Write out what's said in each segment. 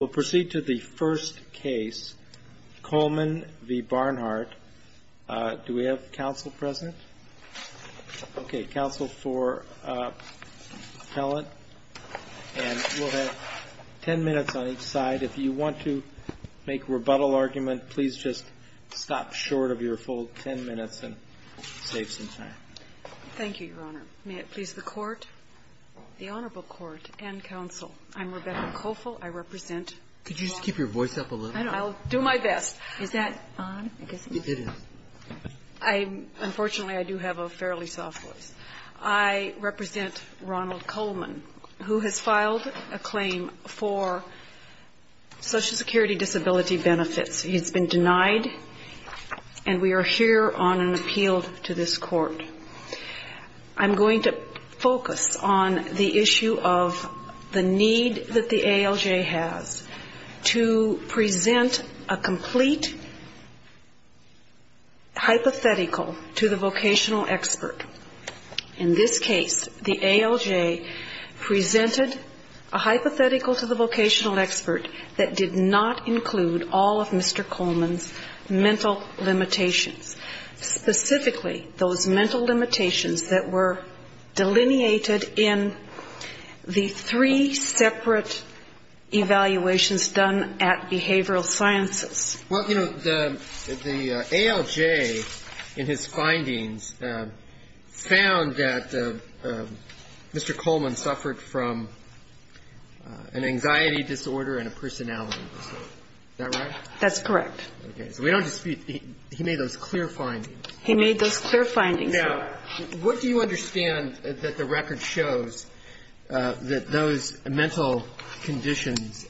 We'll proceed to the first case, Coleman v. Barnhardt. Do we have counsel present? Okay, counsel for appellant. And we'll have ten minutes on each side. If you want to make a rebuttal argument, please just stop short of your full ten minutes and save some time. COLEMAN v. BARNHARDT Thank you, Your Honor. May it please the Court, the Honorable Court and counsel, I'm Rebecca Cofill. I represent Ronald Coleman, who has filed a claim for Social Security disability benefits. He's been denied, and we are here on an appeal to this Court. I'm going to focus on the issue of the need that the ALJ has to present a complete hypothetical to the vocational expert. In this case, the ALJ presented a hypothetical to the vocational expert that did not include all of Mr. Coleman's mental limitations. Specifically, those mental limitations that the ALJ has. And the ALJ presented a hypothetical to the vocational expert that did not include all of Mr. Coleman's mental limitations that were delineated in the three separate evaluations done at Behavioral Sciences. Well, you know, the ALJ, in his findings, found that Mr. Coleman suffered from an anxiety disorder and a personality disorder. Is that right? That's correct. Okay. So we don't dispute he made those clear findings. He made those clear findings. Now, what do you understand that the record shows that those mental conditions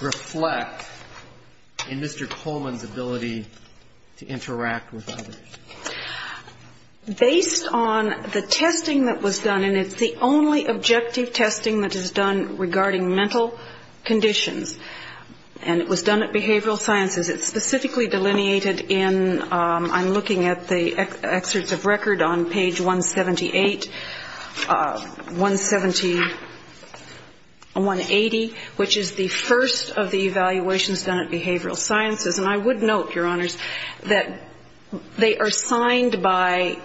reflect in Mr. Coleman's ability to interact with others? Based on the testing that was done, and it's the only objective testing that is done regarding mental conditions, and it was done at Behavioral Sciences. It's specifically delineated in, I'm looking at the excerpts of record on page 178, 170, 180, which is the first of the evaluations done at Behavioral Sciences. And I would note, Your Honors, that they are signed by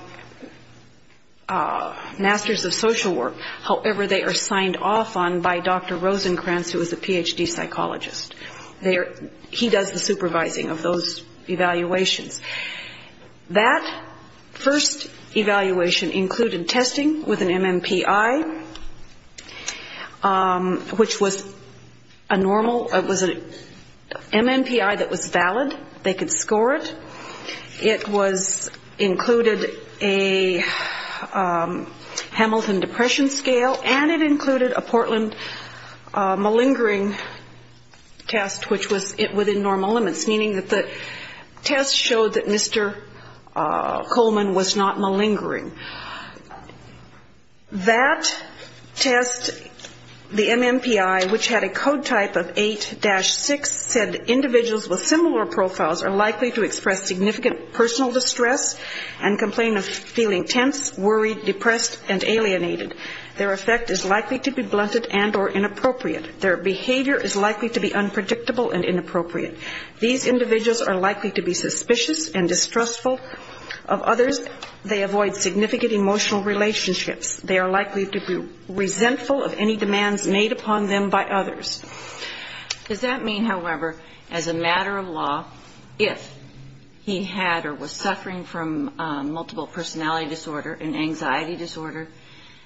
Masters of Social Work. However, they are signed off on by Dr. Rosenkranz, who is a Ph.D. psychologist. He does the supervising of those evaluations. That first evaluation included testing with an MMPI, which was a normal, it was an MMPI that was valid. They could score it. It was included a Hamilton Depression Scale, and it included a Portland malingering test, which was within normal limits, meaning that the test showed that Mr. Coleman was not malingering. That test, the MMPI, which had a code type of 8-6, said individuals with similar profiles are likely to express significant personal distress and complain of feeling tense, worried, depressed, and alienated. Their effect is likely to be blunted and or inappropriate. Their behavior is likely to be unpredictable and inappropriate. These individuals are likely to be suspicious and distrustful of others. They avoid significant emotional relationships. They are likely to be resentful of any demands made upon them by others. Does that mean, however, as a matter of law, if he had or was suffering from multiple personality disorder and anxiety disorder,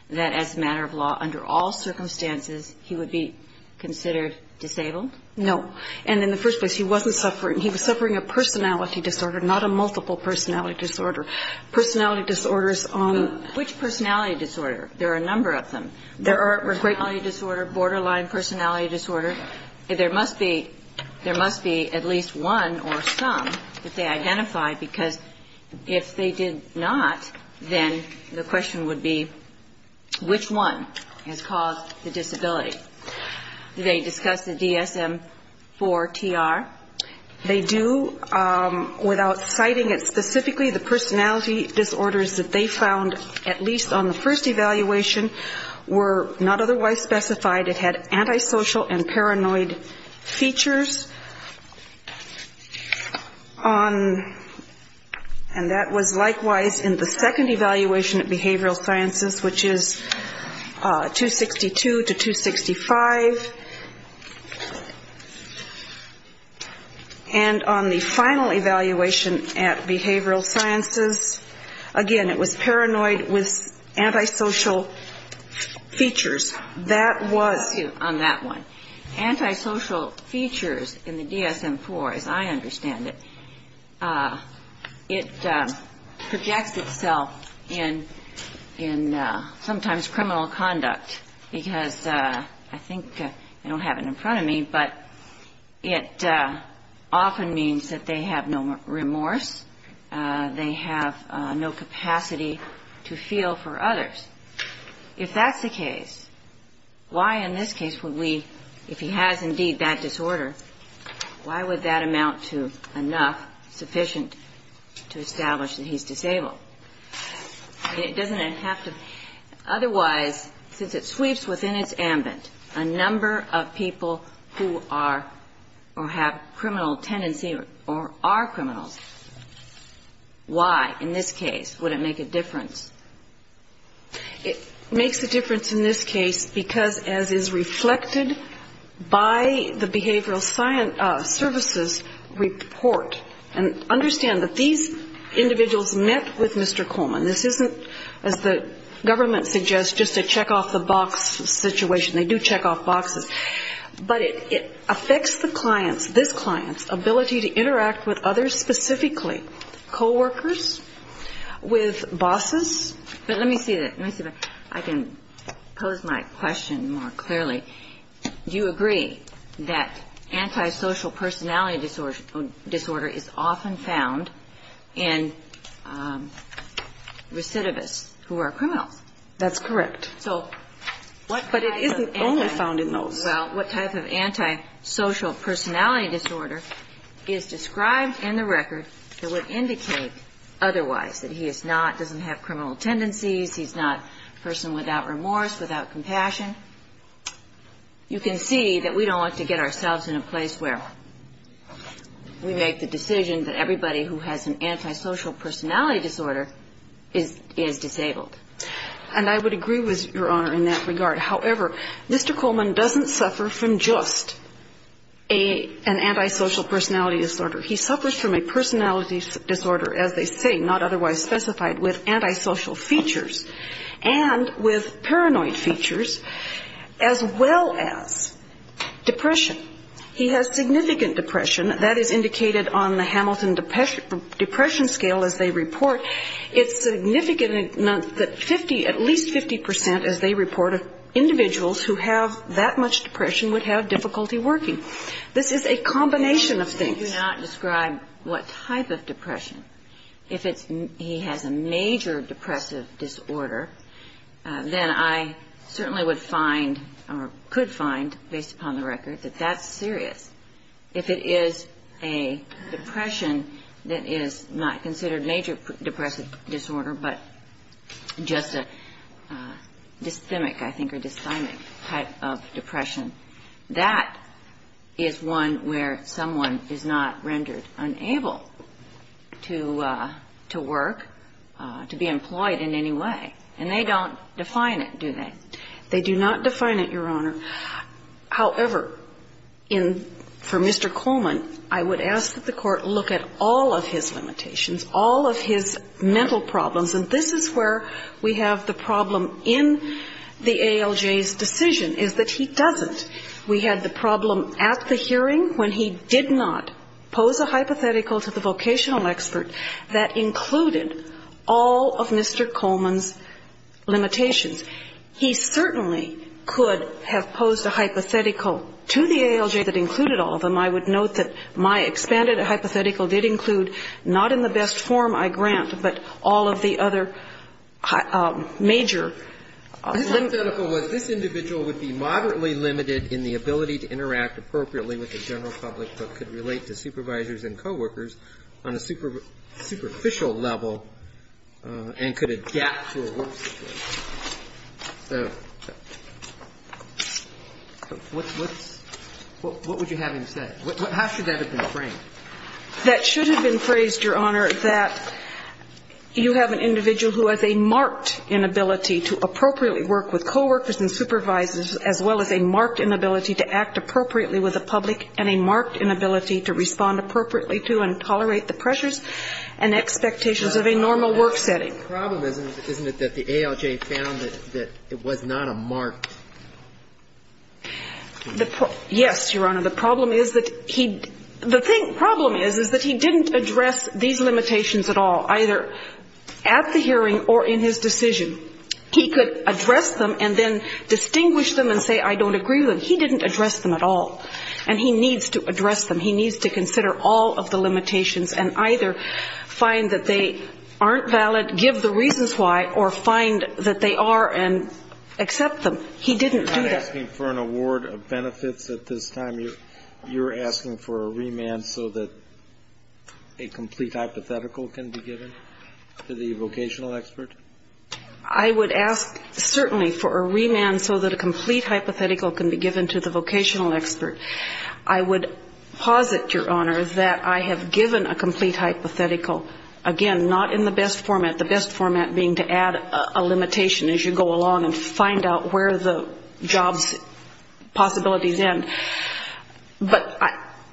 that as a matter of law, under all circumstances, he would be considered disabled? No. And in the first place, he wasn't suffering. He was suffering a personality disorder, not a multiple personality disorder. Personality disorders on... But which personality disorder? There are a number of them. There are personality disorder, borderline personality disorder. There must be at least one or some that they identify, because if they did not, then the question would be, which one has caused the disability? They discuss the DSM-IV-TR. They do, without citing it specifically, the personality disorders that they found, at least on the first evaluation, were not otherwise specified. It had antisocial and paranoid features. And that was likewise in the second evaluation at behavioral sciences, which is 262 to 265. And on the final evaluation at behavioral sciences, again, it was paranoid with antisocial features. Antisocial features in the DSM-IV, as I understand it, it projects itself in sometimes criminal conduct, because I think, I don't have it in front of me, but it often means that they have no remorse, they have no capacity to feel for others. If that's the case, why in this case would we, if he has indeed that disorder, why would that amount to enough sufficient to establish that he's disabled? It doesn't have to... Otherwise, since it sweeps within its ambit a number of people who are or have criminal tendency or are criminals, why in this case would it make a difference? It makes a difference in this case because, as is reflected by the behavioral sciences services report, and understand that these individuals met with Mr. Coleman. This isn't, as the government suggests, just a check-off-the-box situation. They do check off boxes. But it affects the client's, this client's, ability to interact with others specifically, coworkers, with bosses. But let me see if I can pose my question more clearly. You agree that antisocial personality disorder is often found in recidivists who are criminals. That's correct. But it isn't only found in those. Well, what type of antisocial personality disorder is described in the record that would indicate otherwise, that he is not, doesn't have criminal tendencies, he's not a person without remorse, without compassion? You can see that we don't like to get ourselves in a place where we make the decision that everybody who has an antisocial personality disorder is disabled. And I would agree with Your Honor in that regard. However, Mr. Coleman doesn't suffer from just an antisocial personality disorder. He suffers from a personality disorder, as they say, not otherwise specified, with antisocial features, and with paranoid features, as well as depression. He has significant depression. That is indicated on the Hamilton Depression Scale, as they report. It's significant enough that 50, at least 50 percent, as they report, of individuals who have that much depression would have difficulty working. This is a combination of things. You do not describe what type of depression. If he has a major depressive disorder, then I certainly would find or could find, based upon the record, that that's serious. If it is a depression that is not considered a major depressive disorder, but just a dysthymic, I think, or dysthymic type of depression, that is one where someone is not rendered unable to work, to be employed in any way. And they don't define it, do they? They do not define it, Your Honor. However, for Mr. Coleman, I would ask that the Court look at all of his limitations, all of his mental problems. And this is where we have the problem in the ALJ's decision, is that he doesn't. We had the problem at the hearing when he did not pose a hypothetical to the vocational expert that included all of Mr. Coleman's limitations. He certainly could have posed a hypothetical to the ALJ that included all of them. I would note that my expanded hypothetical did include not in the best form I grant, but all of the other major. This hypothetical was, this individual would be moderately limited in the ability to interact appropriately with the general public, but could relate to supervisors and coworkers on a superficial level and could adapt to a work situation. What would you have him say? How should that have been framed? That should have been phrased, Your Honor, that you have an individual who has a marked inability to appropriately work with coworkers and supervisors, as well as a marked inability to act appropriately with the public and a marked inability to respond appropriately to and tolerate the pressures and expectations of a normal work setting. The problem isn't that the ALJ found that it was not a marked. Yes, Your Honor. The problem is that he didn't address these limitations at all, either at the hearing or in his decision. He could address them and then distinguish them and say, I don't agree with them. He didn't address them at all, and he needs to address them. He needs to consider all of the limitations and either find that they aren't valid, give the reasons why, or find that they are and accept them. He didn't do that. You're not asking for an award of benefits at this time. You're asking for a remand so that a complete hypothetical can be given to the vocational expert? I would ask certainly for a remand so that a complete hypothetical can be given to the vocational expert. I would posit, Your Honor, that I have given a complete hypothetical, again, not in the best format, the best format being to add a limitation as you go along and find out where the jobs possibilities end, but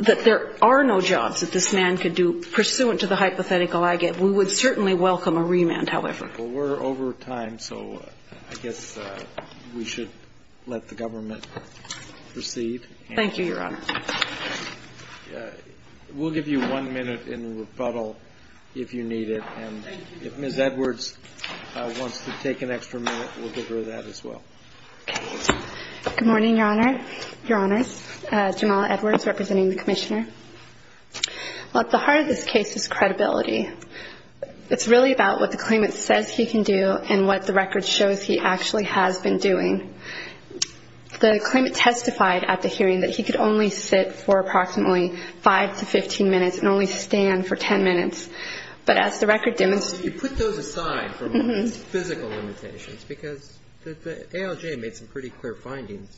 that there are no jobs that this man could do pursuant to the hypothetical I gave. We would certainly welcome a remand, however. Well, we're over time, so I guess we should let the government proceed. Thank you, Your Honor. We'll give you one minute in rebuttal if you need it. And if Ms. Edwards wants to take an extra minute, we'll give her that as well. Okay. Good morning, Your Honor, Your Honors. Jamala Edwards representing the Commissioner. Well, at the heart of this case is credibility. It's really about what the claimant says he can do and what the record shows he actually has been doing. The claimant testified at the hearing that he could only sit for approximately 5 to 15 minutes and only stand for 10 minutes. But as the record demonstrated to us... If you put those aside from physical limitations, because the ALJ made some pretty clear findings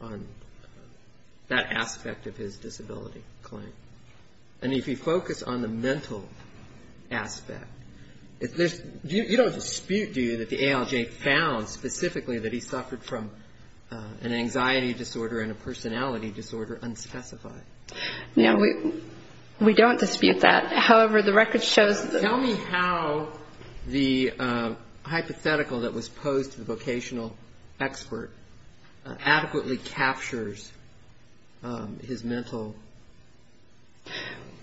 on that aspect of his disability claim. And if you focus on the mental aspect, you don't dispute, do you, that the ALJ found specifically that he suffered from an anxiety disorder and a personality disorder unspecified? No, we don't dispute that. However, the record shows... Tell me how the hypothetical that was posed to the vocational expert adequately captures his mental...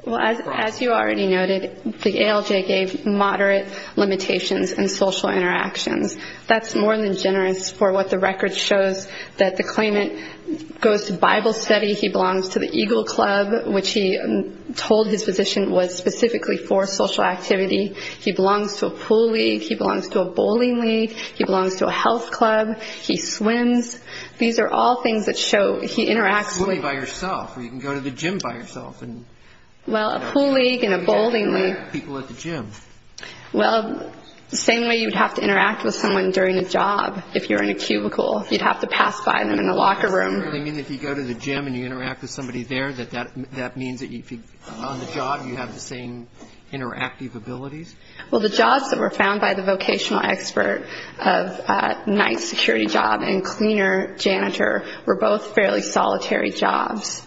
Well, as you already noted, the ALJ gave moderate limitations in social interactions. That's more than generous for what the record shows that the claimant goes to Bible study. He belongs to the Eagle Club, which he told his physician was specifically for social activity. He belongs to a pool league. He belongs to a bowling league. He belongs to a health club. He swims. These are all things that show he interacts... Well, a pool league and a bowling league... People at the gym. Well, the same way you would have to interact with someone during a job. If you're in a cubicle, you'd have to pass by them in a locker room. Does that mean that if you go to the gym and you interact with somebody there, that that means that on the job you have the same interactive abilities? Well, the jobs that were found by the vocational expert of a night security job and cleaner janitor were both fairly solitary jobs.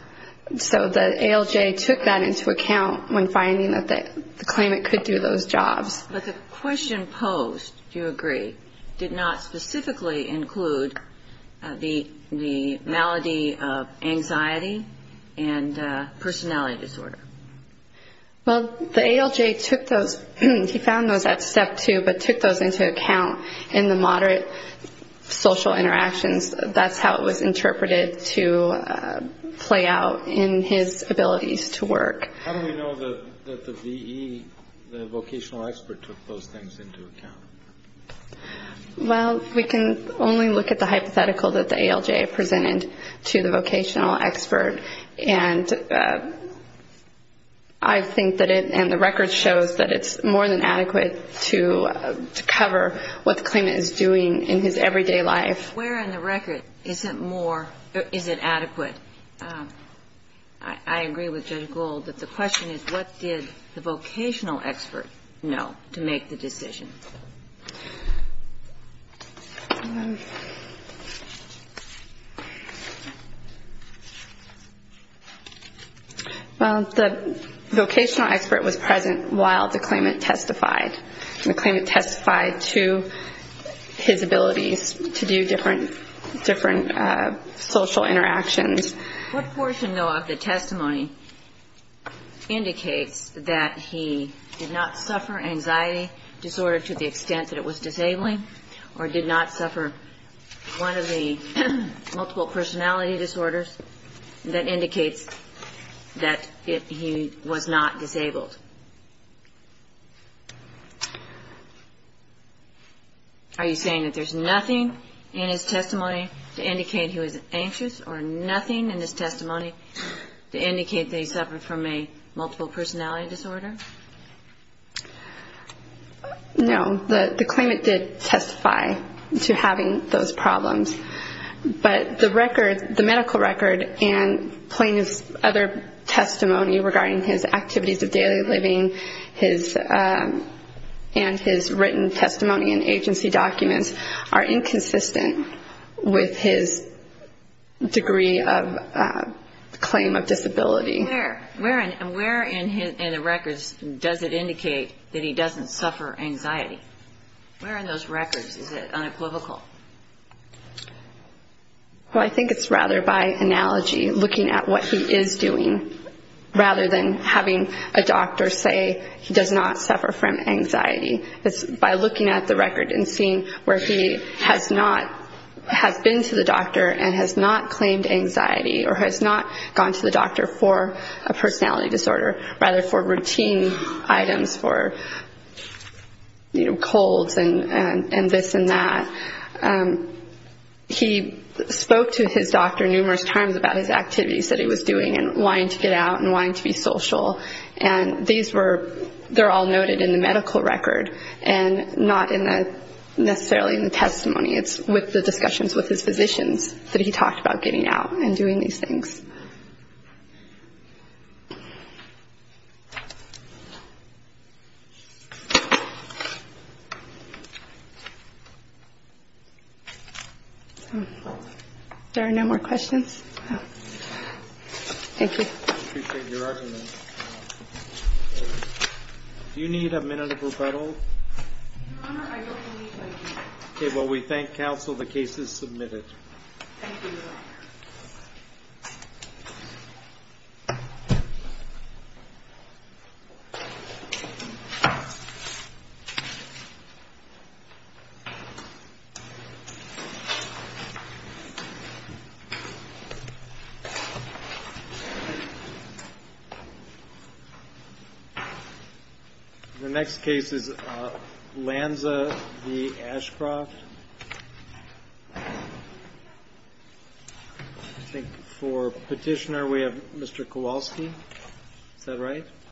So the ALJ took that into account when finding that the claimant could do those jobs. But the question posed, do you agree, did not specifically include the malady of anxiety and personality disorder. Well, the ALJ took those. He found those at step two but took those into account in the moderate social interactions. That's how it was interpreted to play out in his abilities to work. How do we know that the VE, the vocational expert, took those things into account? Well, we can only look at the hypothetical that the ALJ presented to the vocational expert. And I think that it and the record shows that it's more than adequate to cover what the claimant is doing in his everyday life. Where in the record is it more, is it adequate? I agree with Judge Gold that the question is, what did the vocational expert know to make the decision? Well, the vocational expert was present while the claimant testified. The claimant testified to his abilities to do different social interactions. What portion, though, of the testimony indicates that he did not suffer anxiety, personality disorder to the extent that it was disabling or did not suffer one of the multiple personality disorders? That indicates that he was not disabled. Are you saying that there's nothing in his testimony to indicate he was anxious or nothing in his testimony to indicate that he suffered from a multiple personality disorder? No, the claimant did testify to having those problems. But the medical record and plaintiff's other testimony regarding his activities of daily living and his written testimony and agency documents are inconsistent with his degree of claim of disability. Where in the records does it indicate that he doesn't suffer anxiety? Where in those records is it unequivocal? Well, I think it's rather by analogy, looking at what he is doing, rather than having a doctor say he does not suffer from anxiety. It's by looking at the record and seeing where he has not been to the doctor and has not claimed anxiety or has not gone to the doctor for a personality disorder, rather for routine items, for colds and this and that. He spoke to his doctor numerous times about his activities that he was doing and wanting to get out and wanting to be social. And these were all noted in the medical record and not necessarily in the testimony. It's with the discussions with his physicians that he talked about getting out and doing these things. There are no more questions. Thank you. Do you need a minute of rebuttal? Well, we thank counsel the case is submitted. The next case is Lanza v. Ashcroft. I think for petitioner we have Mr. Kowalski. Is that right?